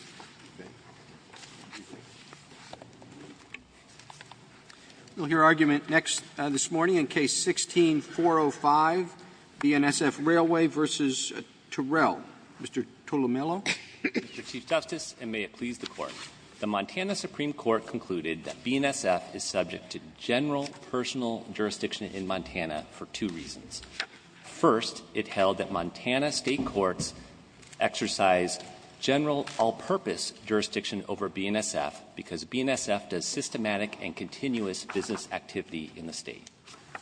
Mr. Chief Justice, and may it please the Court, the Montana Supreme Court concluded that BNSF is subject to general personal jurisdiction in Montana for two reasons. First, it held that Montana state courts exercise general all-purpose jurisdiction over BNSF because BNSF does systematic and continuous business activity in the state.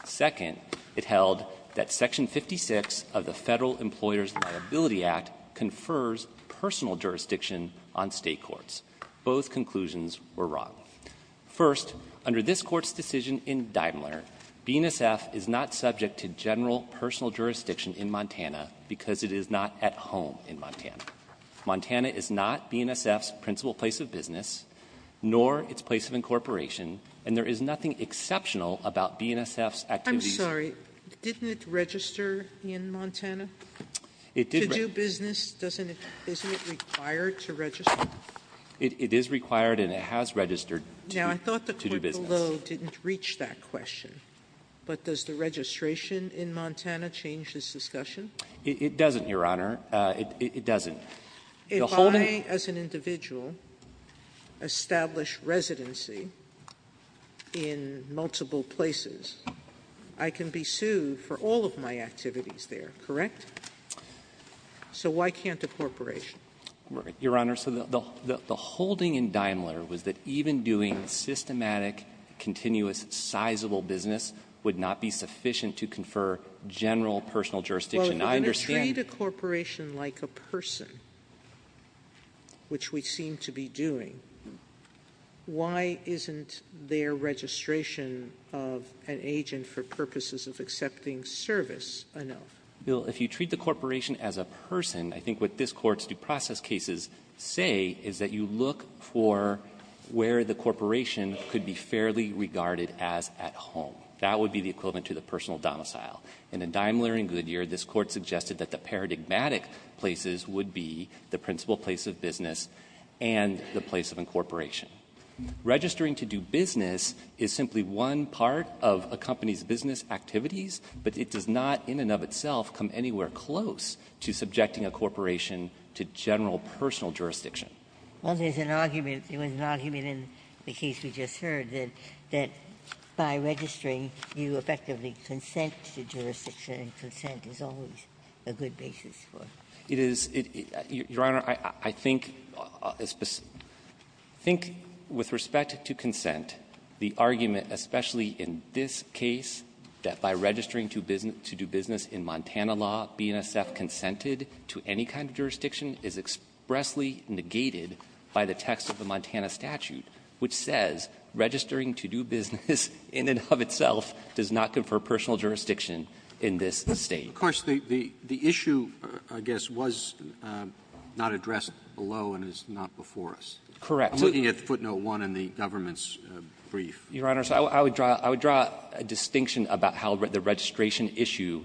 Second, it held that Section 56 of the Federal Employers' Liability Act confers personal jurisdiction on state courts. Both conclusions were wrong. First, under this Court's decision in Deimler, BNSF is not subject to general personal jurisdiction in Montana because it is not at home in Montana. Montana is not BNSF's principal place of business, nor its place of incorporation, and there is nothing exceptional about BNSF's activities. Sotomayor, I'm sorry. Didn't it register in Montana to do business? Isn't it required to register? It is required, and it has registered to do business. Now, I thought the point below didn't reach that question. But does the registration in Montana change this discussion? It doesn't, Your Honor. It doesn't. If I, as an individual, establish residency in multiple places, I can be sued for all of my activities there, correct? So why can't a corporation? Your Honor, so the holding in Deimler was that even doing systematic, continuous, sizable business would not be sufficient to confer general personal jurisdiction. Now, I understand the question. Sotomayor, if we're going to treat a corporation like a person, which we seem to be doing, why isn't their registration of an agent for purposes of accepting service enough? Well, if you treat the corporation as a person, I think what this Court's due process cases say is that you look for where the corporation could be fairly regarded as at home. That would be the equivalent to the personal domicile. And in Deimler and Goodyear, this Court suggested that the paradigmatic places would be the principal place of business and the place of incorporation. Registering to do business is simply one part of a company's business activities, but it does not in and of itself come anywhere close to subjecting a corporation to general personal jurisdiction. Well, there's an argument. There was an argument in the case we just heard that by registering, you effectively consent to jurisdiction, and consent is always a good basis for it. It is. Your Honor, I think with respect to consent, the argument, especially in this case, that by registering to do business in Montana law, BNSF consented to any kind of jurisdiction is expressly negated by the text of the Montana statute, which says registering to do business in and of itself does not confer personal jurisdiction in this State. Of course, the issue, I guess, was not addressed below and is not before us. Correct. I'm looking at footnote 1 in the government's brief. Your Honor, I would draw a distinction about how the registration issue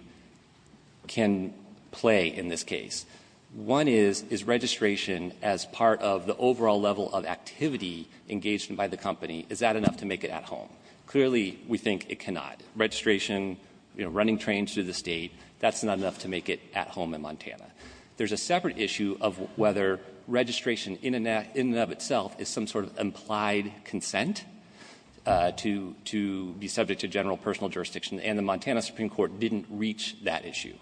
can play in this case. One is, is registration as part of the overall level of activity engaged by the company, is that enough to make it at home? Clearly, we think it cannot. Registration, running trains through the State, that's not enough to make it at home in Montana. There's a separate issue of whether registration in and of itself is some sort of implied consent to be subject to general personal jurisdiction, and the Montana Supreme Court didn't reach that issue.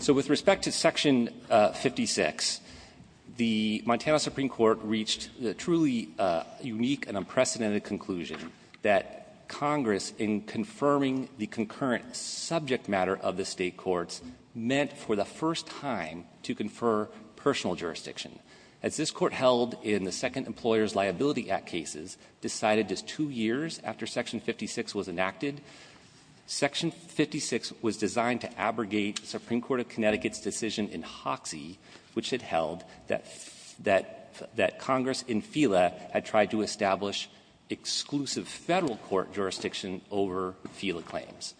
So with respect to Section 56, the Montana Supreme Court reached the truly unique and unprecedented conclusion that Congress, in confirming the concurrent subject matter of the State courts, meant for the first time to confer personal jurisdiction. As this Court held in the Second Employer's Liability Act cases, decided just two years after Section 56 was enacted, Section 56 was designed to abrogate the Supreme Court of Connecticut's decision in Hoxie, which had held that Congress in FILA had tried to establish exclusive Federal court jurisdiction over FILA claims.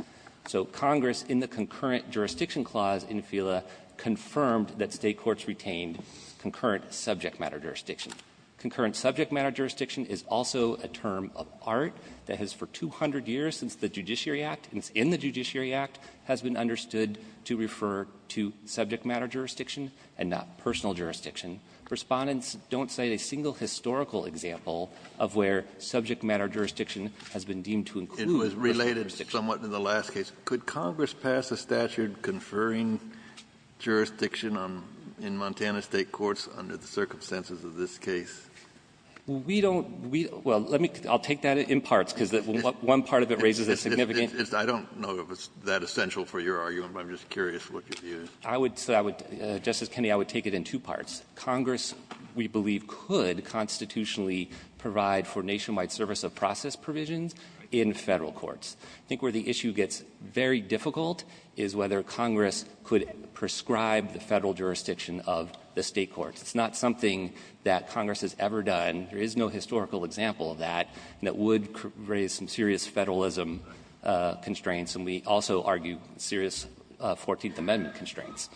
So Congress, in the concurrent jurisdiction clause in FILA, confirmed that State courts retained concurrent subject matter jurisdiction. Concurrent subject matter jurisdiction is also a term of art that has, for 200 years since the Judiciary Act, and it's in the Judiciary Act, has been understood to refer to subject matter jurisdiction and not personal jurisdiction. Respondents don't cite a single historical example of where subject matter jurisdiction has been deemed to include personal jurisdiction. Kennedy, it was related somewhat in the last case. Could Congress pass a statute conferring jurisdiction in Montana State courts under the circumstances of this case? We don't, we, well, let me, I'll take that in parts, because one part of it raises a significant. I don't know if it's that essential for your argument, but I'm just curious what your view is. I would, so I would, Justice Kennedy, I would take it in two parts. Congress, we believe, could constitutionally provide for nationwide service of process provisions in Federal courts. I think where the issue gets very difficult is whether Congress could prescribe the Federal jurisdiction of the State courts. It's not something that Congress has ever done. There is no historical example of that, and it would raise some serious Federalism constraints. And we also argue serious 14th Amendment constraints.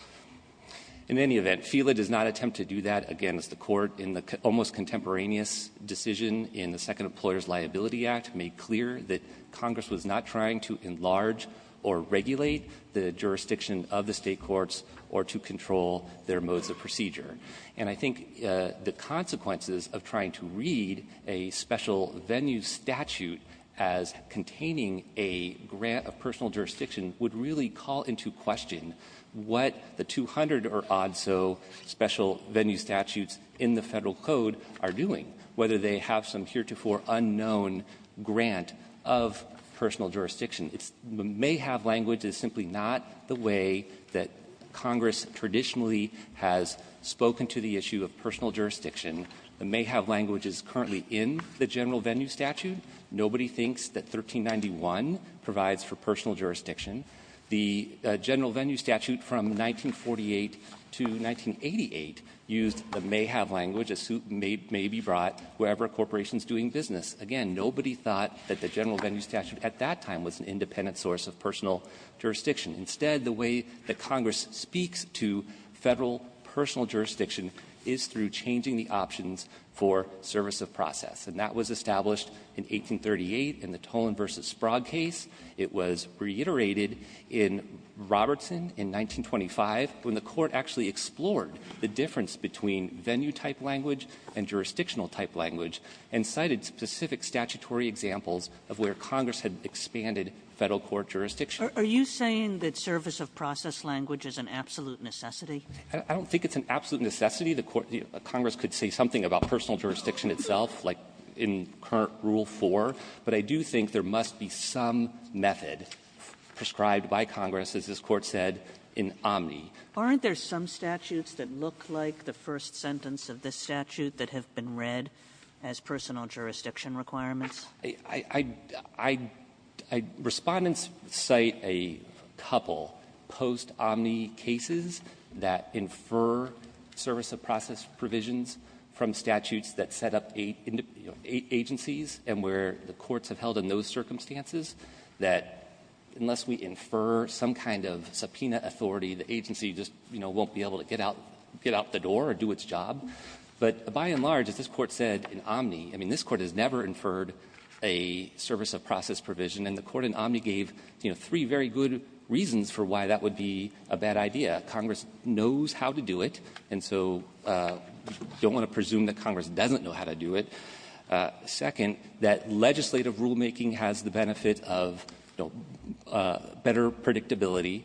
In any event, FELA does not attempt to do that against the court in the almost contemporaneous case decision in the Second Employer's Liability Act made clear that Congress was not trying to enlarge or regulate the jurisdiction of the State courts or to control their modes of procedure. And I think the consequences of trying to read a special venue statute as containing a grant of personal jurisdiction would really call into question what the 200 or odd so special venue statutes in the Federal code are doing, whether they have some heretofore unknown grant of personal jurisdiction. It may have language that's simply not the way that Congress traditionally has spoken to the issue of personal jurisdiction. It may have language that's currently in the general venue statute. Nobody thinks that 1391 provides for personal jurisdiction. The general venue statute from 1948 to 1988 used the may have language, a suit may be brought wherever a corporation is doing business. Again, nobody thought that the general venue statute at that time was an independent source of personal jurisdiction. Instead, the way that Congress speaks to Federal personal jurisdiction is through changing the options for service of process. And that was established in 1838 in the Tolan v. Sprague case. It was reiterated in Robertson in 1925 when the Court actually explored the difference between venue-type language and jurisdictional-type language and cited specific statutory examples of where Congress had expanded Federal court jurisdiction. Are you saying that service of process language is an absolute necessity? I don't think it's an absolute necessity. The Congress could say something about personal jurisdiction itself, like in current Rule 4, but I do think there must be some method prescribed by Congress, as this Court said, in omni. Aren't there some statutes that look like the first sentence of this statute that have been read as personal jurisdiction requirements? I'd respondents cite a couple post-omni cases that infer service of process provisions from statutes that set up eight agencies and where the courts have held in those circumstances that unless we infer some kind of subpoena authority, the agency just won't be able to get out the door or do its job. But by and large, as this Court said in omni, I mean, this Court has never inferred a service of process provision, and the Court in omni gave three very good reasons for why that would be a bad idea. First, that Congress knows how to do it, and so you don't want to presume that Congress doesn't know how to do it. Second, that legislative rulemaking has the benefit of better predictability.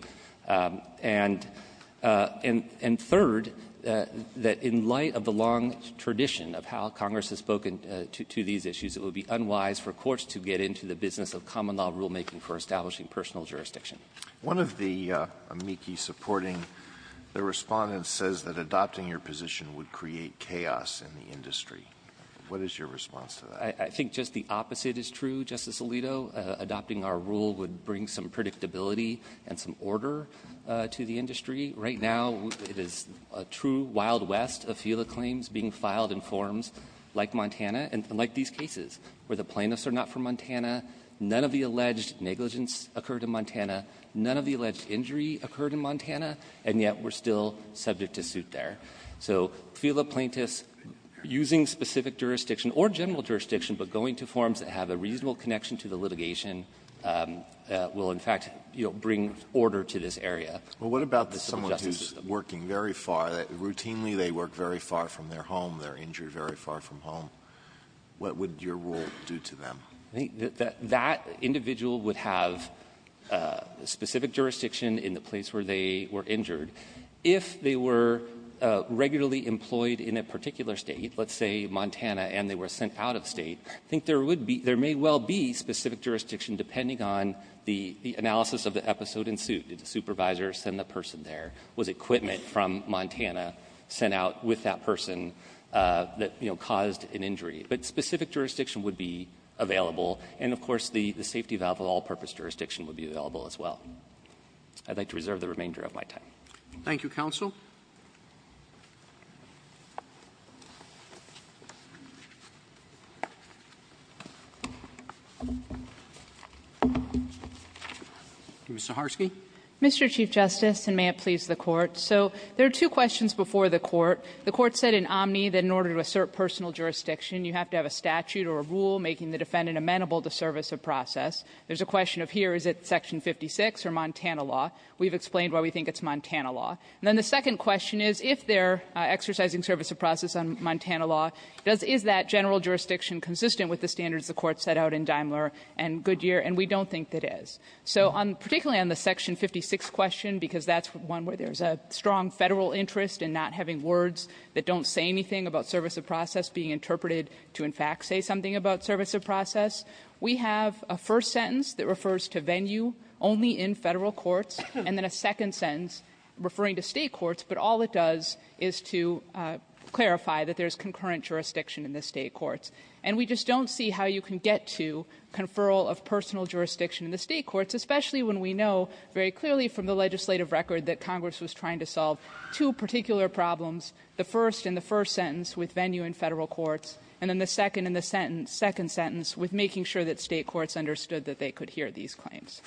And third, that in light of the long tradition of how Congress has spoken to these issues, it would be unwise for courts to get into the business of common-law rulemaking for establishing personal jurisdiction. Alito, one of the amici supporting the Respondent says that adopting your position would create chaos in the industry. What is your response to that? I think just the opposite is true, Justice Alito. Adopting our rule would bring some predictability and some order to the industry. Right now, it is a true wild west of FILA claims being filed in forms like Montana and like these cases, where the plaintiffs are not from Montana, none of the alleged negligence occurred in Montana, none of the alleged injury occurred in Montana, and yet we're still subject to suit there. So FILA plaintiffs using specific jurisdiction or general jurisdiction, but going to forms that have a reasonable connection to the litigation will, in fact, bring order to this area. Well, what about someone who's working very far? Routinely, they work very far from their home. They're injured very far from home. What would your rule do to them? I think that that individual would have specific jurisdiction in the place where they were injured. If they were regularly employed in a particular State, let's say Montana, and they were sent out of State, I think there would be — there may well be specific jurisdiction depending on the analysis of the episode in suit. Did the supervisor send the person there? Was equipment from Montana sent out with that person that, you know, caused an injury? But specific jurisdiction would be available, and of course, the safety valve of all-purpose jurisdiction would be available as well. I'd like to reserve the remainder of my time. Thank you, counsel. Ms. Zaharsky. Mr. Chief Justice, and may it please the Court. So there are two questions before the Court. The Court said in Omni that in order to assert personal jurisdiction, you have to have a statute or a rule making the defendant amenable to service of process. There's a question of here, is it Section 56 or Montana law? We've explained why we think it's Montana law. And then the second question is, if they're exercising service of process on Montana law, does — is that general jurisdiction consistent with the standards the Court set out in Daimler and Goodyear? And we don't think that it is. So on — particularly on the Section 56 question, because that's one where there's a strong Federal interest in not having words that don't say anything about service of process being interpreted to, in fact, say something about service of process, we have a first sentence that refers to venue only in Federal courts, and then a second sentence referring to State courts, but all it does is to clarify that there is concurrent jurisdiction in the State courts. And we just don't see how you can get to conferral of personal jurisdiction in the State courts, especially when we know very clearly from the legislative record that Congress was trying to solve two particular problems, the first in the first sentence with venue in Federal courts, and then the second in the second sentence with making sure that State courts understood that they could hear these claims.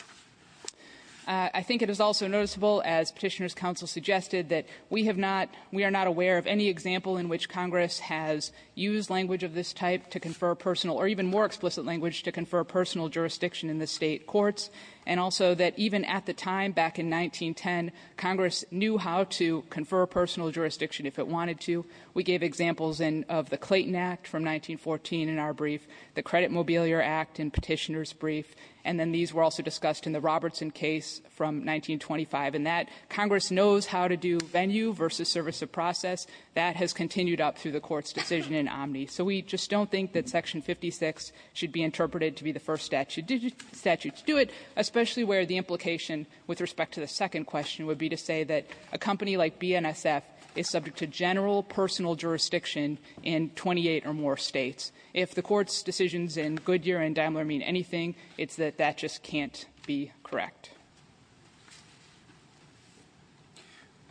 I think it is also noticeable, as Petitioners' counsel suggested, that we have not — we are not aware of any example in which Congress has used language of this type to confer personal — or even more explicit language to confer personal jurisdiction in the State courts, and also that even at the time, back in 1910, Congress knew how to confer personal jurisdiction if it wanted to. We gave examples in — of the Clayton Act from 1914 in our brief, the Credit Mobiliar Act in Petitioners' brief, and then these were also discussed in the Robertson case from 1925, and that Congress knows how to do venue versus service of process. That has continued up through the Court's decision in Omni. So we just don't think that Section 56 should be interpreted to be the first statute to do it, especially where the implication with respect to the second question would be to say that a company like BNSF is subject to general personal jurisdiction in 28 or more States. If the Court's decisions in Goodyear and Daimler mean anything, it's that that just can't be correct.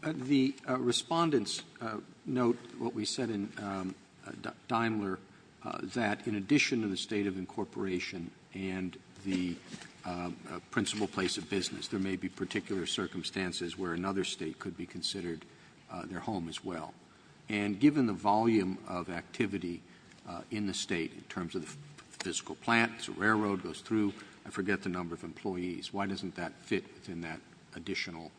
The respondents note what we said in Daimler, that in addition to the state of incorporation and the principal place of business, there may be particular circumstances where another State could be considered their home as well. And given the volume of activity in the State in terms of the physical plant, the railroad goes through, I forget the number of employees, why doesn't that fit within that additional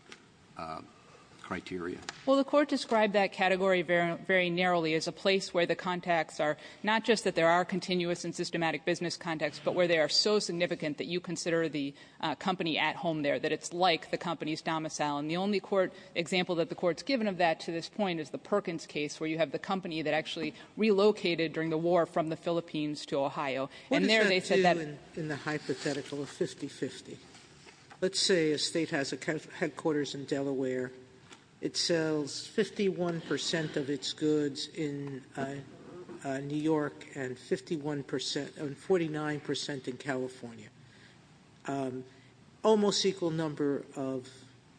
criteria? Well, the Court described that category very narrowly as a place where the contacts are not just that there are continuous and systematic business contacts, but where they are so significant that you consider the company at home there, that it's like the company's domicile. And the only court example that the Court's given of that to this point is the Perkins case, where you have the company that actually relocated during the war from the Philippines to Ohio. And there they said that they were going to do that. Let's say a State has a headquarters in Delaware. It sells 51% of its goods in New York and 49% in California. Almost equal number of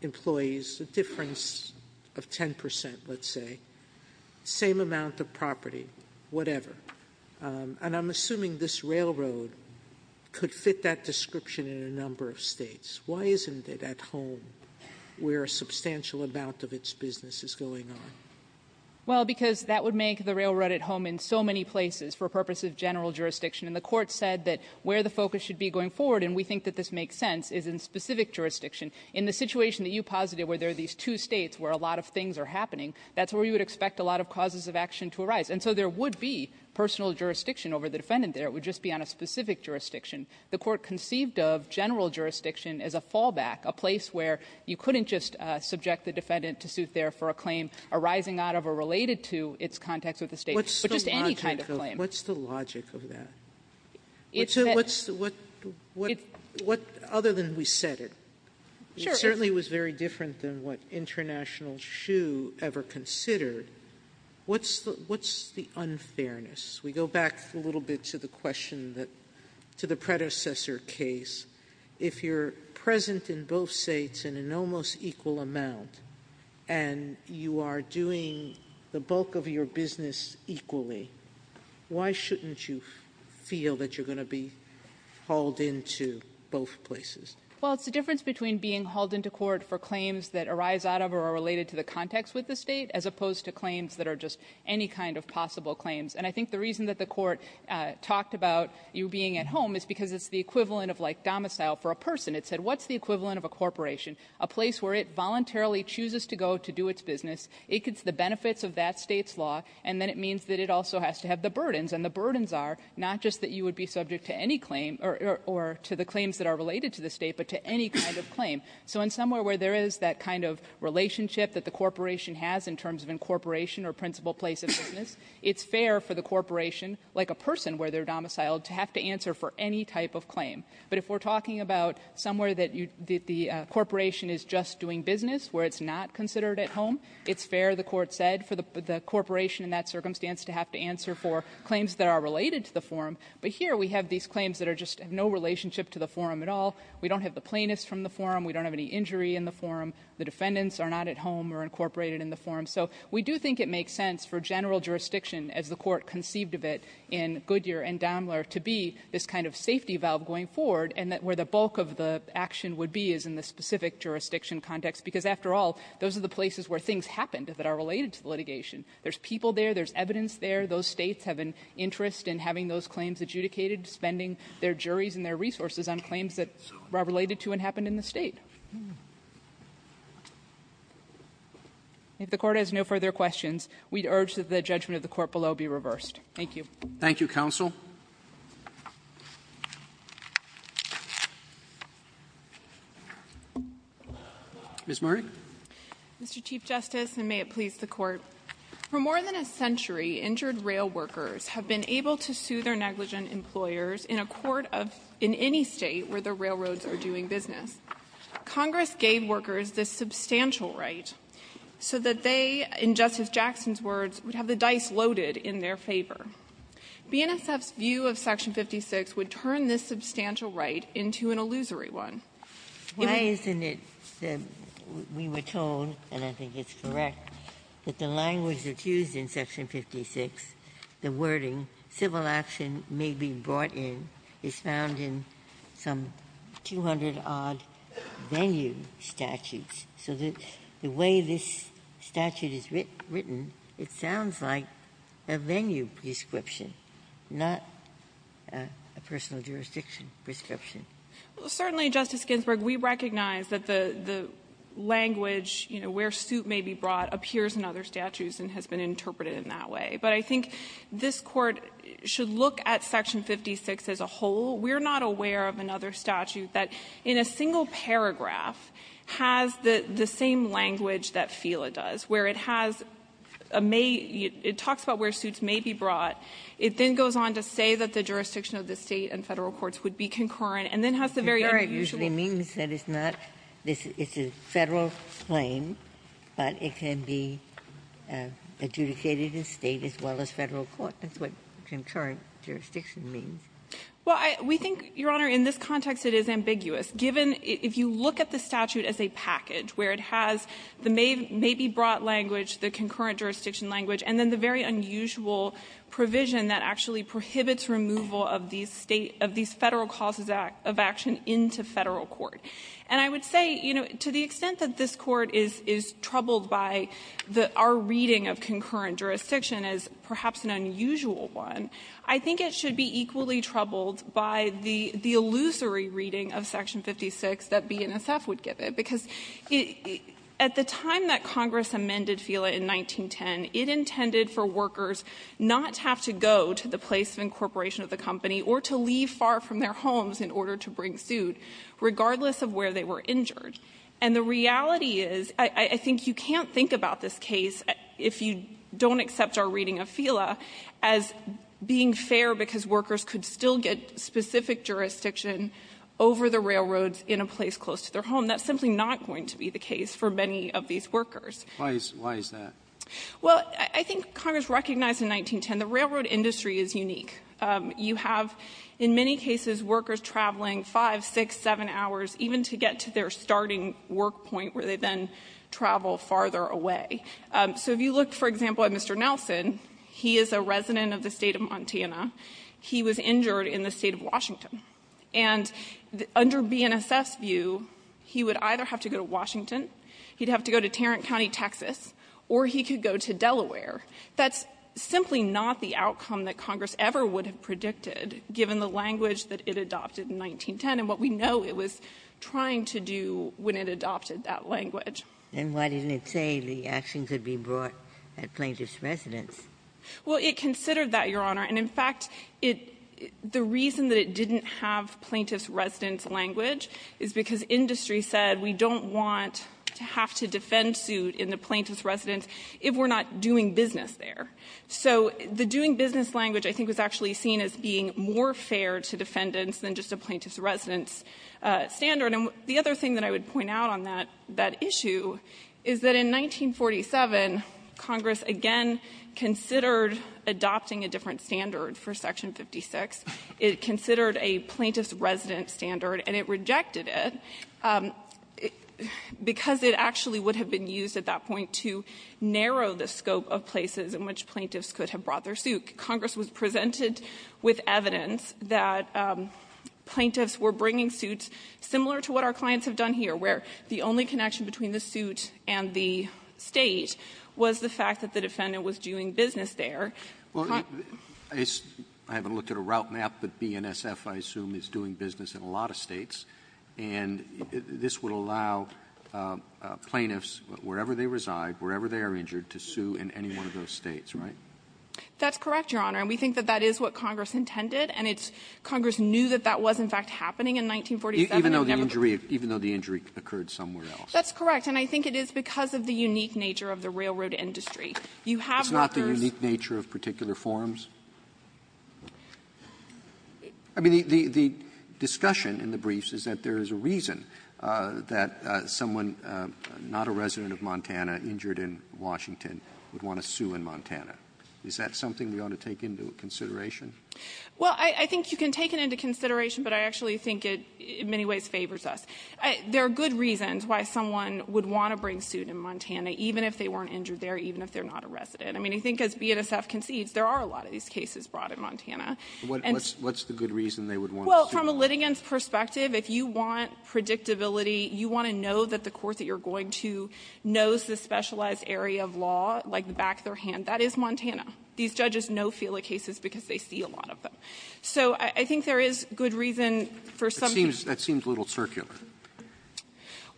employees, a difference of 10%, let's say. Same amount of property, whatever. And I'm assuming this railroad could fit that description in a number of States. Why isn't it at home where a substantial amount of its business is going on? Well, because that would make the railroad at home in so many places for purposes of general jurisdiction. And the Court said that where the focus should be going forward, and we think that this makes sense, is in specific jurisdiction. In the situation that you posited where there are these two States where a lot of things are happening, that's where you would expect a lot of causes of action to arise. And so there would be personal jurisdiction over the defendant there. It would just be on a specific jurisdiction. The Court conceived of general jurisdiction as a fallback, a place where you couldn't just subject the defendant to suit there for a claim arising out of or related to its context with the State, but just any kind of claim. What's the logic of that? Other than we said it. It certainly was very different than what International Shoe ever considered. What's the unfairness? We go back a little bit to the question that, to the predecessor case, if you're present in both States in an almost equal amount, and you are doing the bulk of your business equally, why shouldn't you feel that you're going to be hauled into both places? Well, it's the difference between being hauled into court for claims that arise out of or are related to the context with the State, as opposed to claims that are just any kind of possible claims. And I think the reason that the Court talked about you being at home is because it's the equivalent of, like, domicile for a person. It said, what's the equivalent of a corporation? A place where it voluntarily chooses to go to do its business, it gets the benefits of that State's law, and then it means that it also has to have the burdens. And the burdens are not just that you would be subject to any claim or to the claims that are related to the State, but to any kind of claim. So in somewhere where there is that kind of relationship that the corporation has in terms of incorporation or principal place of business, it's fair for the corporation, like a person where they're domiciled, to have to answer for any type of claim. But if we're talking about somewhere that you the corporation is just doing business where it's not considered at home, it's fair, the Court said, for the corporation in that circumstance to have to answer for claims that are related to the forum. But here we have these claims that are just no relationship to the forum at all. We don't have the plaintiffs from the forum. We don't have any injury in the forum. The defendants are not at home or incorporated in the forum. So we do think it makes sense for general jurisdiction, as the Court conceived of it in Goodyear and Daimler, to be this kind of safety valve going forward, and that where the bulk of the action would be is in the specific jurisdiction context, because after all, those are the places where things happened that are related to litigation. There's people there. There's evidence there. Those States have an interest in having those claims adjudicated, spending their time on litigation. If the Court has no further questions, we'd urge that the judgment of the Court below be reversed. Thank you. Thank you, counsel. Ms. Murray. Mr. Chief Justice, and may it please the Court, for more than a century, injured rail workers have been able to sue their negligent employers in a court of any State where the railroads are doing business. Congress gave workers this substantial right so that they, in Justice Jackson's words, would have the dice loaded in their favor. BNSF's view of Section 56 would turn this substantial right into an illusory one. If it was used in Section 56, the wording, civil action may be brought in, is found in some 200-odd venue statutes. So the way this statute is written, it sounds like a venue prescription, not a personal jurisdiction prescription. Well, certainly, Justice Ginsburg, we recognize that the language, you know, where suit may be brought, appears in other statutes and has been interpreted in that way. But I think this Court should look at Section 56 as a whole. We're not aware of another statute that, in a single paragraph, has the same language that FELA does, where it has a may — it talks about where suits may be brought. It then goes on to say that the jurisdiction of the State and Federal courts would be concurrent, and then has the very unusual — Ginsburg, it usually means that it's not — it's a Federal claim, but it can be adjudicated in State as well as Federal court. That's what concurrent jurisdiction means. Well, I — we think, Your Honor, in this context, it is ambiguous. Given — if you look at the statute as a package, where it has the may be brought language, the concurrent jurisdiction language, and then the very unusual provision that actually prohibits removal of these State — of these Federal causes of action into Federal court. And I would say, you know, to the extent that this Court is — is troubled by the — our reading of concurrent jurisdiction as perhaps an unusual one, I think it should be equally troubled by the — the illusory reading of Section 56 that BNSF would give it, because it — at the time that Congress amended FELA in 1910, it intended for workers not to have to go to the place of incorporation of the company or to leave far from their homes in order to bring suit, regardless of where they were injured. And the reality is, I — I think you can't think about this case, if you don't accept our reading of FELA, as being fair because workers could still get specific jurisdiction over the railroads in a place close to their home. That's simply not going to be the case for many of these workers. Roberts. Why is that? Well, I think Congress recognized in 1910 the railroad industry is unique. You have, in many cases, workers traveling five, six, seven hours, even to get to their starting work point, where they then travel farther away. So if you look, for example, at Mr. Nelson, he is a resident of the State of Montana. He was injured in the State of Washington. And under BNSF's view, he would either have to go to Washington, he'd have to go to Tarrant County, Texas, or he could go to Delaware. That's simply not the outcome that Congress ever would have predicted, given the language that it adopted in 1910 and what we know it was trying to do when it adopted that language. And why didn't it say the action could be brought at plaintiff's residence? Well, it considered that, Your Honor. And, in fact, it the reason that it didn't have plaintiff's residence language is because industry said we don't want to have to defend suit in the plaintiff's residence if we're not doing business there. So the doing business language, I think, was actually seen as being more fair to defendants than just a plaintiff's residence standard. And the other thing that I would point out on that issue is that in 1947, Congress again considered adopting a different standard for Section 56. It considered a plaintiff's residence standard, and it rejected it because it actually would have been used at that point to narrow the scope of places in which plaintiffs could have brought their suit. Congress was presented with evidence that plaintiffs were bringing suits similar to what our clients have done here, where the only connection between the suit and the State was the fact that the defendant was doing business there. Roberts. I haven't looked at a route map, but BNSF, I assume, is doing business in a lot of States, and this would allow plaintiffs, wherever they reside, wherever they are injured, to sue in any one of those States, right? That's correct, Your Honor. And we think that that is what Congress intended, and it's – Congress knew that that was, in fact, happening in 1947. Even though the injury occurred somewhere else. That's correct. And I think it is because of the unique nature of the railroad industry. You have workers – It's not the unique nature of particular forms? I mean, the discussion in the briefs is that there is a reason that someone, not a resident of Montana, injured in Washington, would want to sue in Montana. Is that something we ought to take into consideration? Well, I think you can take it into consideration, but I actually think it in many ways favors us. There are good reasons why someone would want to bring suit in Montana, even if they weren't injured there, even if they're not a resident. I mean, I think as BNSF concedes, there are a lot of these cases brought in Montana. And so – What's the good reason they would want to sue? Well, from a litigant's perspective, if you want predictability, you want to know that the court that you're going to knows the specialized area of law, like the back of their hand, that is Montana. These judges know FILA cases because they see a lot of them. So I think there is good reason for some to – That seems a little circular.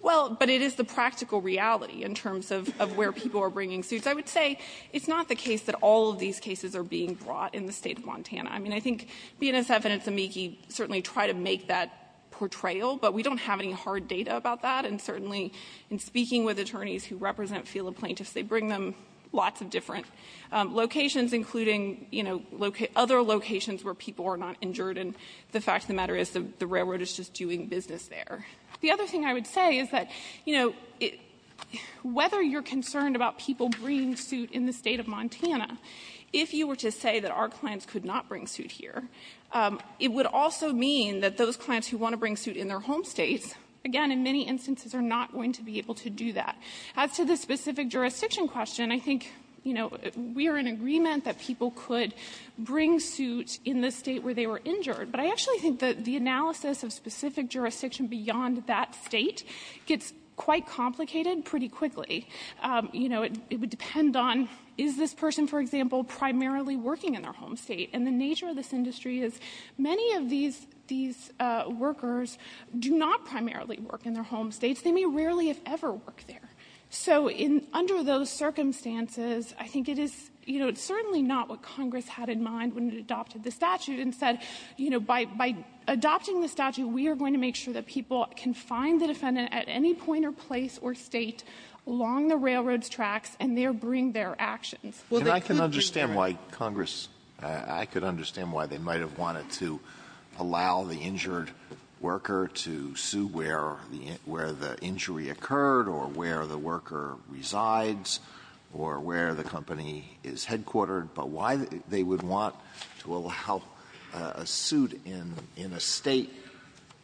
Well, but it is the practical reality in terms of where people are bringing suits. I would say it's not the case that all of these cases are being brought in the State of Montana. I mean, I think BNSF and Insomniac certainly try to make that portrayal, but we don't have any hard data about that. And certainly in speaking with attorneys who represent FILA plaintiffs, they bring them lots of different locations, including, you know, other locations where people are not injured. And the fact of the matter is the railroad is just doing business there. The other thing I would say is that, you know, whether you're concerned about people bringing suit in the State of Montana, if you were to say that our clients could not bring suit here, it would also mean that those clients who want to bring suit in their home States, again, in many instances are not going to be able to do that. As to the specific jurisdiction question, I think, you know, we are in agreement that people could bring suit in the State where they were injured. But I actually think that the analysis of specific jurisdiction beyond that State gets quite complicated pretty quickly. You know, it would depend on, is this person, for example, primarily working in their home State? And the nature of this industry is many of these workers do not primarily work in their home States. They may rarely have ever worked there. So in under those circumstances, I think it is, you know, it's certainly not what Congress had in mind when it adopted the statute and said, you know, by adopting the statute, we are going to make sure that people can find the defendant at any point or place or State along the railroad's tracks, and there bring their actions. Well, they could be there. Alitono, I can understand why Congress, I could understand why they might have wanted to allow the injured worker to sue where the injury occurred or where the worker resides or where the company is headquartered, but why they would want to allow a suit in a State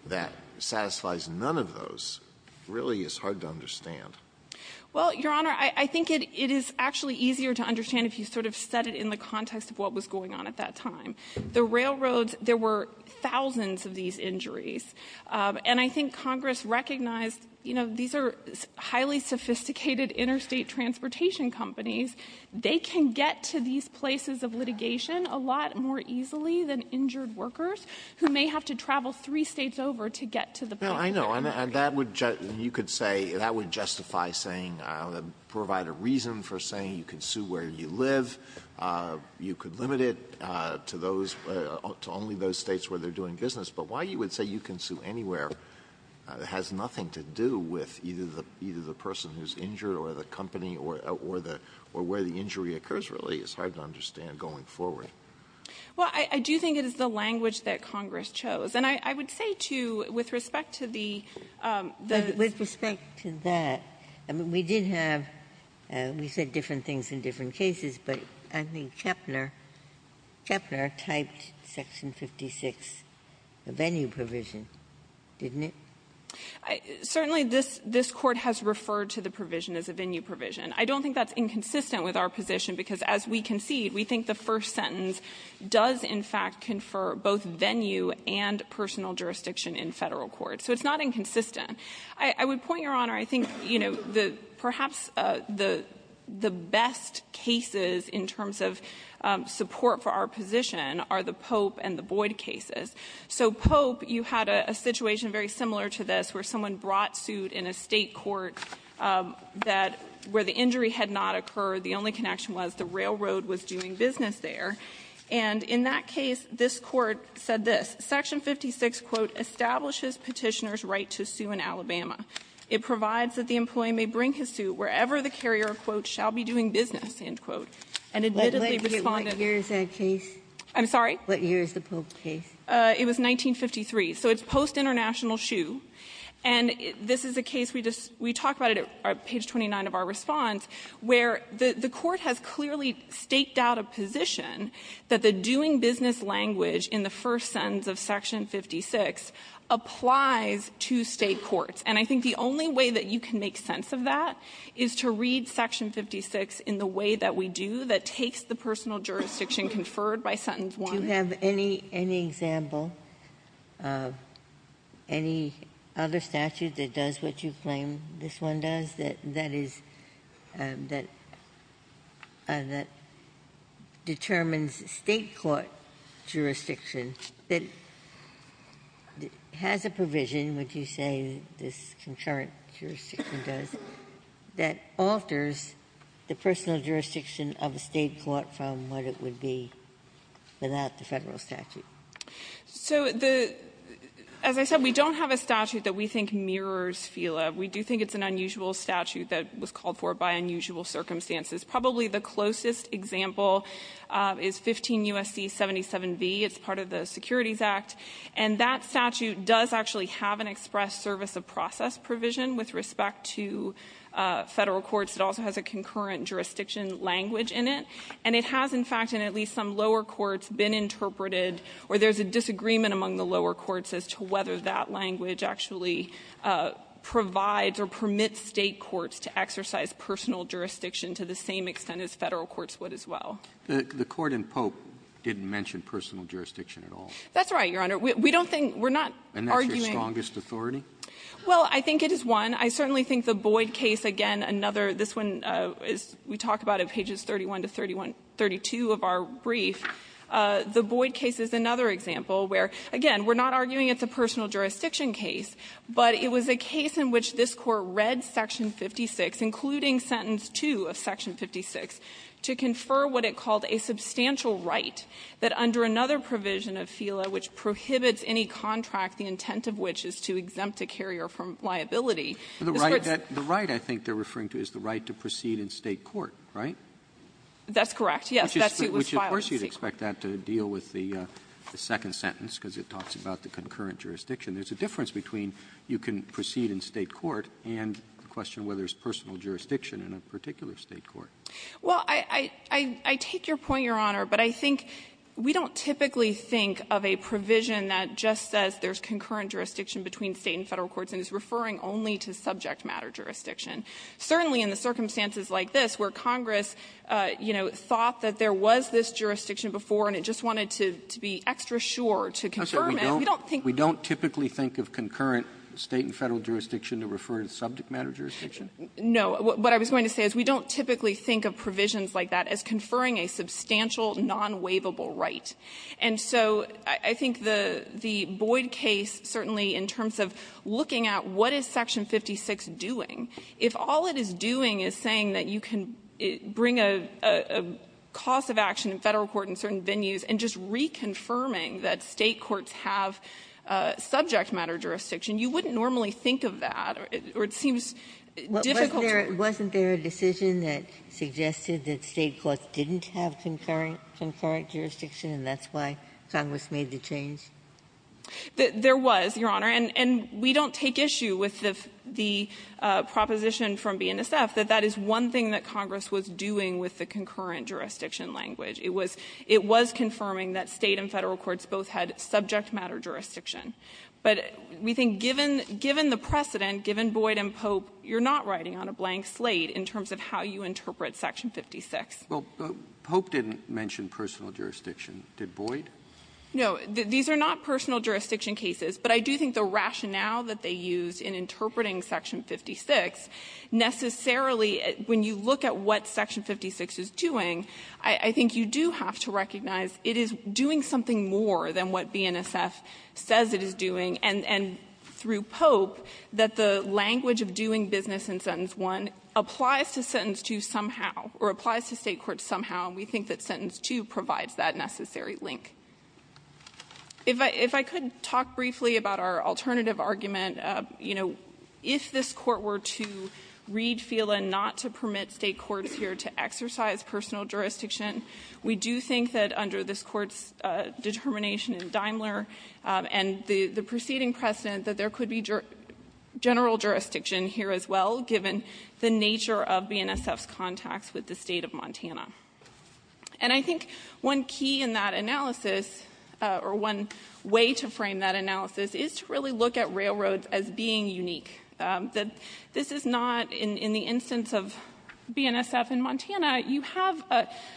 that satisfies none of those really is hard to understand. Well, Your Honor, I think it is actually easier to understand if you sort of set it in the context of what was going on at that time. The railroads, there were thousands of these injuries. And I think Congress recognized, you know, these are highly sophisticated interstate transportation companies. They can get to these places of litigation a lot more easily than injured workers who may have to travel three States over to get to the place where they are. Alitono, and that would just you could say that would justify saying provide a reason for saying you can sue where you live, you could limit it to those, to only those States where they are doing business. But why you would say you can sue anywhere has nothing to do with either the person who is injured or the company or where the injury occurs really is hard to understand going forward. Well, I do think it is the language that Congress chose. And I would say, too, with respect to the the ---- Ginsburg, you said different things in different cases, but I think Kepler, Kepler typed Section 56, the venue provision, didn't it? Certainly, this Court has referred to the provision as a venue provision. I don't think that's inconsistent with our position, because as we concede, we think the first sentence does, in fact, confer both venue and personal jurisdiction in Federal court. So it's not inconsistent. I would point, Your Honor, I think, you know, the perhaps the best cases in terms of support for our position are the Pope and the Boyd cases. So Pope, you had a situation very similar to this where someone brought suit in a State court that where the injury had not occurred, the only connection was the railroad was doing business there. And in that case, this Court said this. Section 56, quote, establishes Petitioner's right to sue in Alabama. It provides that the employee may bring his suit wherever the carrier, quote, shall be doing business, end quote. And admittedly, Respondent ---- Ginsburg, what year is that case? I'm sorry? What year is the Pope case? It was 1953. So it's post-international shoe. And this is a case we just we talked about it at page 29 of our response, where the Court has clearly staked out a position that the doing business language in the first sentence of section 56 applies to State courts. And I think the only way that you can make sense of that is to read section 56 in the way that we do that takes the personal jurisdiction conferred by sentence 1. Ginsburg. Do you have any example of any other statute that does what you claim this one does, that is, that determines State court jurisdiction, that has a provision, would you say this concurrent jurisdiction does, that alters the personal jurisdiction of a State court from what it would be without the Federal statute? So the ---- as I said, we don't have a statute that we think mirrors FILA. We do think it's an unusual statute that was called for by unusual circumstances. Probably the closest example is 15 U.S.C. 77b. It's part of the Securities Act. And that statute does actually have an express service of process provision with respect to Federal courts. It also has a concurrent jurisdiction language in it. And it has, in fact, in at least some lower courts, been interpreted where there's a disagreement among the lower courts as to whether that language actually provides or permits State courts to exercise personal jurisdiction to the same extent as Federal courts would as well. The Court in Pope didn't mention personal jurisdiction at all. That's right, Your Honor. We don't think we're not arguing ---- And that's your strongest authority? Well, I think it is one. I certainly think the Boyd case, again, another ---- this one is we talk about it, pages 31 to 32 of our brief. The Boyd case is another example where, again, we're not arguing it's a personal jurisdiction case, but it was a case in which this Court read Section 56, including sentence 2 of Section 56, to confer what it called a substantial right that under another provision of FELA which prohibits any contract, the intent of which is to exempt a carrier from liability. The right that ---- The right I think they're referring to is the right to proceed in State court, That's correct, yes. That suit was filed in State court. I don't expect that to deal with the second sentence, because it talks about the concurrent jurisdiction. There's a difference between you can proceed in State court and the question whether it's personal jurisdiction in a particular State court. Well, I take your point, Your Honor, but I think we don't typically think of a provision that just says there's concurrent jurisdiction between State and Federal courts and is referring only to subject matter jurisdiction. Certainly in the circumstances like this where Congress, you know, thought that there was this jurisdiction before and it just wanted to be extra sure to confirm it, we don't think we don't typically think of concurrent State and Federal jurisdiction to refer to subject matter jurisdiction. No. What I was going to say is we don't typically think of provisions like that as conferring a substantial non-waivable right. And so I think the Boyd case, certainly in terms of looking at what is Section 56 doing, if all it is doing is saying that you can bring a cause of action in Federal court in certain venues and just reconfirming that State courts have subject matter jurisdiction, you wouldn't normally think of that. Or it seems difficult to work with. Ginsburg. Wasn't there a decision that suggested that State courts didn't have concurrent jurisdiction, and that's why Congress made the change? There was, Your Honor. And we don't take issue with the proposition from BNSF that that is one thing that was doing with the concurrent jurisdiction language. It was confirming that State and Federal courts both had subject matter jurisdiction. But we think given the precedent, given Boyd and Pope, you're not writing on a blank slate in terms of how you interpret Section 56. Well, Pope didn't mention personal jurisdiction. Did Boyd? No. These are not personal jurisdiction cases. But I do think the rationale that they used in interpreting Section 56, necessarily when you look at what Section 56 is doing, I think you do have to recognize it is doing something more than what BNSF says it is doing. And through Pope, that the language of doing business in Sentence 1 applies to Sentence 2 somehow, or applies to State courts somehow, and we think that Sentence 2 provides that necessary link. If I could talk briefly about our alternative argument. You know, if this Court were to read FILA not to permit State courts here to exercise personal jurisdiction, we do think that under this Court's determination in Daimler and the preceding precedent that there could be general jurisdiction here as well, given the nature of BNSF's contacts with the State of Montana. And I think one key in that analysis, or one way to frame that analysis, is to really look at railroads as being unique, that this is not, in the instance of BNSF in Montana, you have,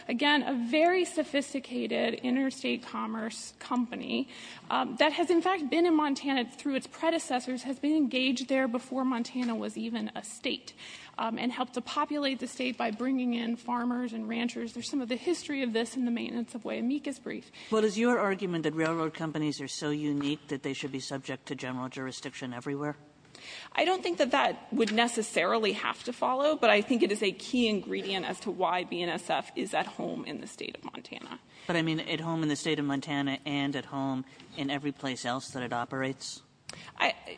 again, a very sophisticated interstate commerce company that has, in fact, been in Montana through its predecessors, has been engaged there before Montana was even a State, and helped to populate the State by bringing in farmers and ranchers. There's some of the history of this in the maintenance of Waiameka's brief. Well, does your argument that railroad companies are so unique that they should be subject to general jurisdiction everywhere? I don't think that that would necessarily have to follow, but I think it is a key ingredient as to why BNSF is at home in the State of Montana. But I mean at home in the State of Montana and at home in every place else that it operates?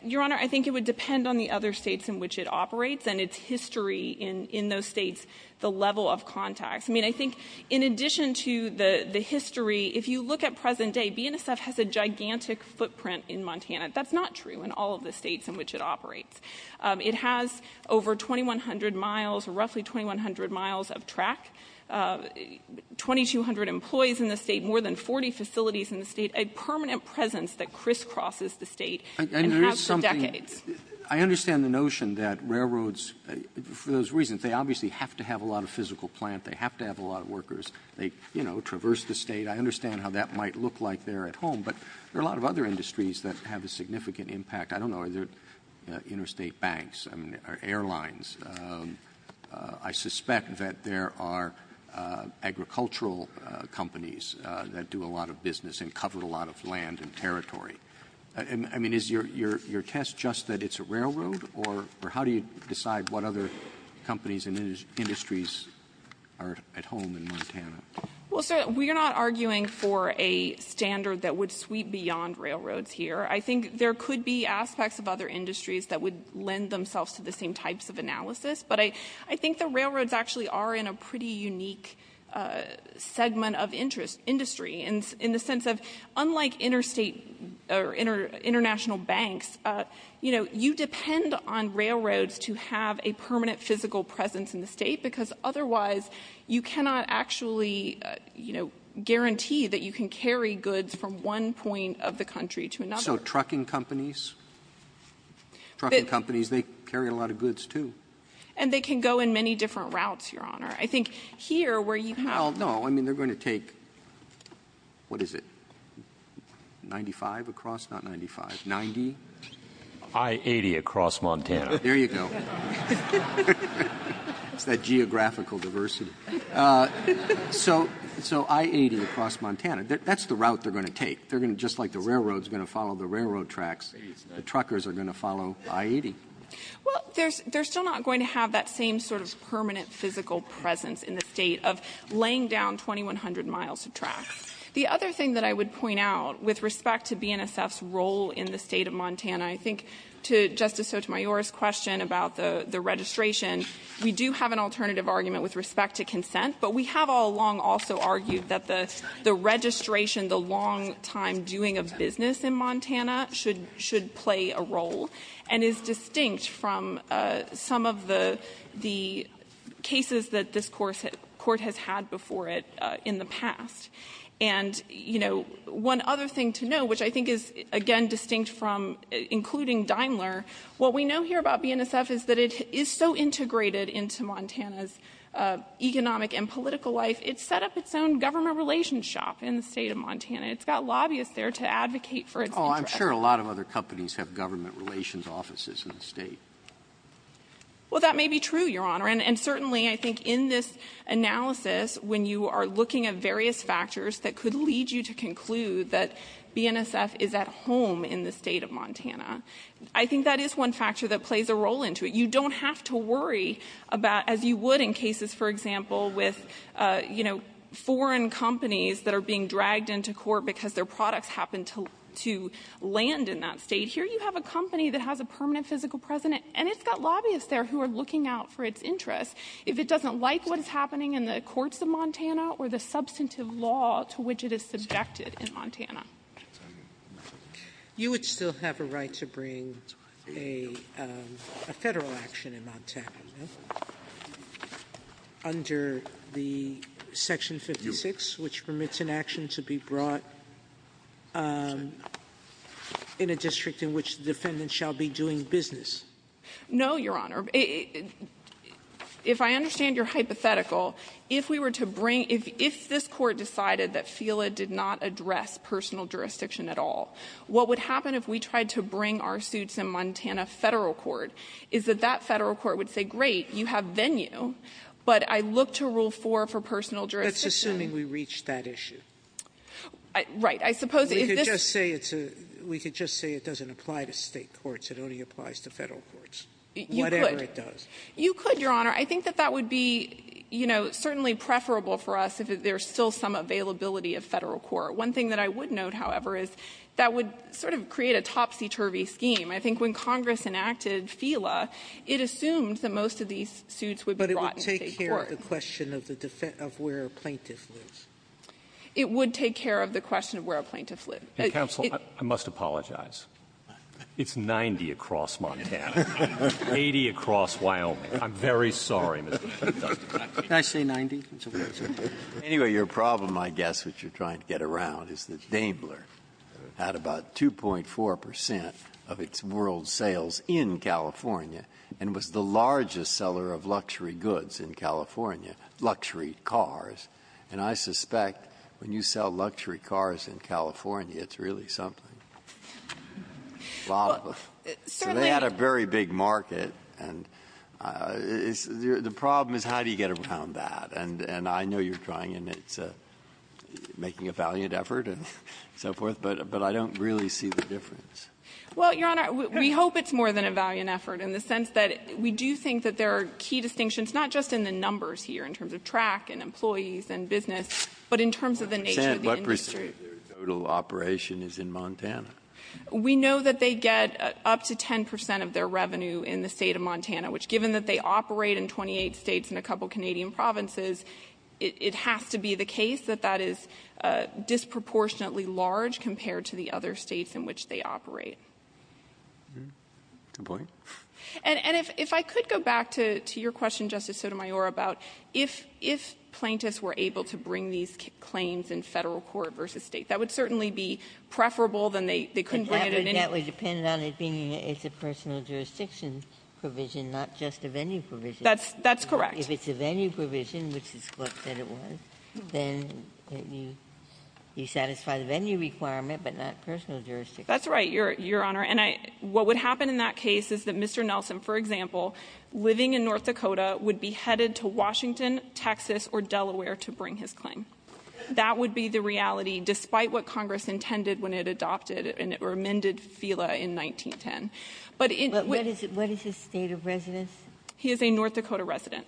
Your Honor, I think it would depend on the other States in which it operates and its history in those States, the level of contacts. I mean, I think in addition to the history, if you look at present day, BNSF has a gigantic footprint in Montana. That's not true in all of the States in which it operates. It has over 2,100 miles, roughly 2,100 miles of track, 2,200 employees in the State, more than 40 facilities in the State, a permanent presence that crisscrosses the State and has for decades. And there is something – I understand the notion that railroads, for those reasons, they obviously have to have a lot of physical plant. They have to have a lot of workers. They, you know, traverse the State. I understand how that might look like there at home. But there are a lot of other industries that have a significant impact. I don't know, are there interstate banks or airlines? I suspect that there are agricultural companies that do a lot of business and cover a lot of land and territory. I mean, is your test just that it's a railroad, or how do you decide what other companies and industries are at home in Montana? Well, sir, we are not arguing for a standard that would sweep beyond railroads here. I think there could be aspects of other industries that would lend themselves to the same types of analysis. But I think the railroads actually are in a pretty unique segment of interest – industry in the sense of, unlike interstate or international banks, you know, on railroads to have a permanent physical presence in the State, because otherwise you cannot actually, you know, guarantee that you can carry goods from one point of the country to another. So trucking companies? Trucking companies, they carry a lot of goods, too. And they can go in many different routes, Your Honor. I think here, where you have the – Well, no. I mean, they're going to take, what is it, 95 across? Not 95. 90? I-80 across Montana. There you go. It's that geographical diversity. So I-80 across Montana, that's the route they're going to take. They're going to – just like the railroads are going to follow the railroad tracks, the truckers are going to follow I-80. Well, they're still not going to have that same sort of permanent physical presence in the State of laying down 2,100 miles of tracks. The other thing that I would point out with respect to BNSF's role in the State of Montana, I think to Justice Sotomayor's question about the registration, we do have an alternative argument with respect to consent. But we have all along also argued that the registration, the long time doing of business in Montana, should play a role and is distinct from some of the cases that this State has had before it in the past. And, you know, one other thing to know, which I think is, again, distinct from including Daimler, what we know here about BNSF is that it is so integrated into Montana's economic and political life, it's set up its own government relations shop in the State of Montana. It's got lobbyists there to advocate for its interests. Oh, I'm sure a lot of other companies have government relations offices in the State. Well, that may be true, Your Honor. And certainly, I think in this analysis, when you are looking at various factors that could lead you to conclude that BNSF is at home in the State of Montana, I think that is one factor that plays a role into it. You don't have to worry about, as you would in cases, for example, with, you know, foreign companies that are being dragged into court because their products happen to land in that state. Here you have a company that has a permanent physical president, and it's got If it doesn't like what is happening in the courts of Montana or the substantive law to which it is subjected in Montana. Sotomayor. You would still have a right to bring a Federal action in Montana, no? Under the Section 56, which permits an action to be brought in a district in which the defendant shall be doing business. No, Your Honor. If I understand your hypothetical, if we were to bring — if this Court decided that FELA did not address personal jurisdiction at all, what would happen if we tried to bring our suits in Montana Federal court, is that that Federal court would say, great, you have venue, but I look to Rule 4 for personal jurisdiction. That's assuming we reach that issue. Right. I suppose if this — We could just say it's a — we could just say it doesn't apply to State courts. It only applies to Federal courts. Whatever it does. You could, Your Honor. I think that that would be, you know, certainly preferable for us if there's still some availability of Federal court. One thing that I would note, however, is that would sort of create a topsy-turvy scheme. I think when Congress enacted FELA, it assumed that most of these suits would be brought in State court. But it would take care of the question of where a plaintiff lives. It would take care of the question of where a plaintiff lives. Counsel, I must apologize. It's 90 across Montana. 80 across Wyoming. I'm very sorry, Mr. Chief Justice. Can I say 90? Anyway, your problem, I guess, which you're trying to get around, is that Daimler had about 2.4 percent of its world sales in California, and was the largest seller of luxury goods in California, luxury cars. And I suspect when you sell luxury cars in California, it's really something. Well, they had a very big market, and the problem is how do you get around that? And I know you're trying, and it's making a valiant effort and so forth, but I don't really see the difference. Well, Your Honor, we hope it's more than a valiant effort in the sense that we do think that there are key distinctions, not just in the numbers here in terms of track and employees and business, but in terms of the nature of the industry. Their total operation is in Montana. We know that they get up to 10 percent of their revenue in the State of Montana, which, given that they operate in 28 States and a couple of Canadian provinces, it has to be the case that that is disproportionately large compared to the other States in which they operate. Good point. And if I could go back to your question, Justice Sotomayor, about if plaintiffs were able to bring these claims in federal court versus state. That would certainly be preferable than they couldn't bring it in any— That would depend on it being a personal jurisdiction provision, not just a venue provision. That's correct. If it's a venue provision, which the court said it was, then you satisfy the venue requirement, but not personal jurisdiction. That's right, Your Honor, and what would happen in that case is that Mr. Nelson, for example, living in North Dakota, would be headed to Washington, Texas or Delaware to bring his claim. That would be the reality, despite what Congress intended when it adopted or amended FELA in 1910. But it's— But what is his State of residence? He is a North Dakota resident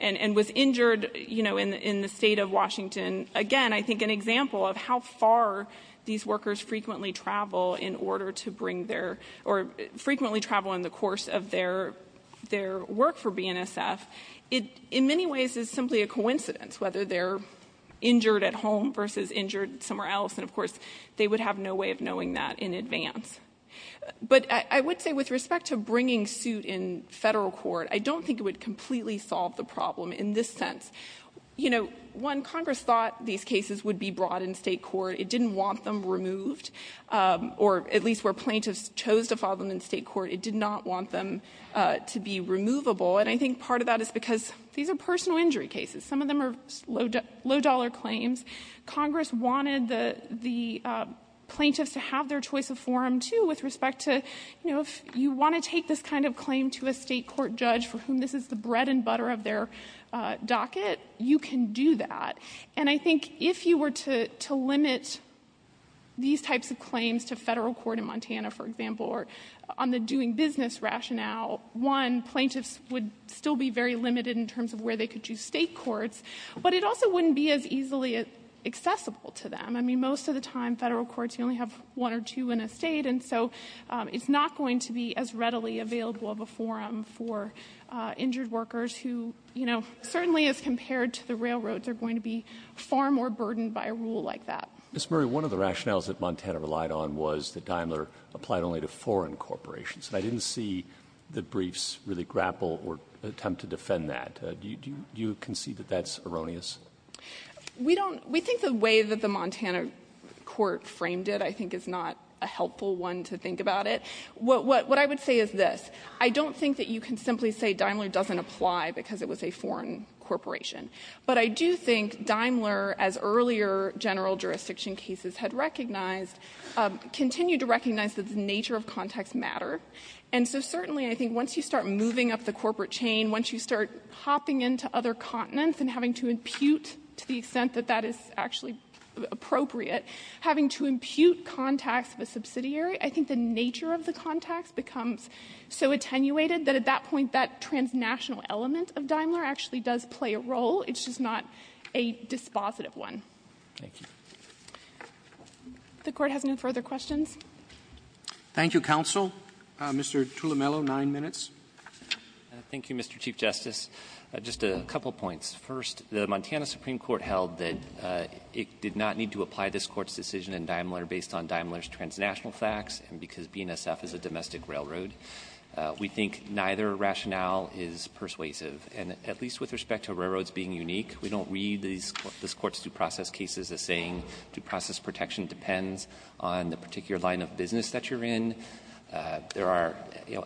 and was injured, you know, in the State of Washington. Again, I think an example of how far these workers frequently travel in order to bring their — or frequently travel in the course of their work for BNSF, it in many ways is simply a coincidence, whether they're injured at home versus injured somewhere else. And of course, they would have no way of knowing that in advance. But I would say with respect to bringing suit in Federal court, I don't think it would completely solve the problem in this sense. You know, one, Congress thought these cases would be brought in State court. It didn't want them removed, or at least where plaintiffs chose to file them in State court, it did not want them to be removable. And I think part of that is because these are personal injury cases. Some of them are low-dollar claims. Congress wanted the plaintiffs to have their choice of forum, too, with respect to, you know, if you want to take this kind of claim to a State court judge for whom this is the bread and butter of their docket, you can do that. And I think if you were to limit these types of claims to Federal court in Montana, for example, or on the doing business rationale, one, plaintiffs would still be very limited in terms of where they could choose State courts, but it also wouldn't be as easily accessible to them. I mean, most of the time, Federal courts, you only have one or two in a State, and so it's not going to be as readily available of a forum for injured workers who, you know, certainly as compared to the railroad, they're going to be far more burdened by a rule like that. Mr. Murray, one of the rationales that Montana relied on was that Daimler applied only to foreign corporations, and I didn't see the briefs really grapple or attempt to defend that. Do you concede that that's erroneous? We don't — we think the way that the Montana court framed it, I think, is not a helpful one to think about it. What I would say is this. I don't think that you can simply say Daimler doesn't apply because it was a foreign corporation, but I do think Daimler, as earlier general jurisdiction cases had recognized, continued to recognize that the nature of contacts matter, and so certainly, I think, once you start moving up the corporate chain, once you start hopping into other continents and having to impute, to the extent that that is actually appropriate, having to impute contacts of a subsidiary, I think the nature of the contacts becomes so attenuated that at that point, that transnational element of Daimler actually does play a role. It's just not a dispositive one. Thank you. If the Court has no further questions. Thank you, counsel. Mr. Tullamello, nine minutes. Thank you, Mr. Chief Justice. Just a couple points. First, the Montana Supreme Court held that it did not need to apply this Court's decision in Daimler based on Daimler's transnational facts, and because BNSF is a domestic railroad, we think neither rationale is persuasive, and at least with respect to railroads being unique. We don't read this Court's due process cases as saying due process protection depends on the particular line of business that you're in. There are,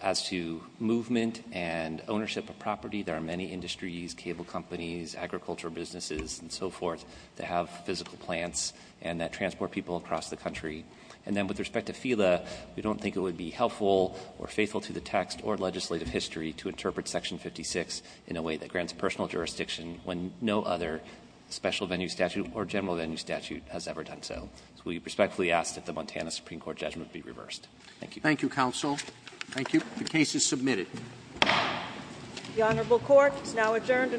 as to movement and ownership of property, there are many industries, cable companies, agricultural businesses, and so forth, that have physical plants and that transport people across the country. And then with respect to FILA, we don't think it would be helpful or faithful to the text or legislative history to interpret section 56 in a way that grants personal jurisdiction when no other special venue statute or general venue statute has ever done so. So we respectfully ask that the Montana Supreme Court judgment be reversed. Thank you. Thank you, counsel. Thank you. The case is submitted.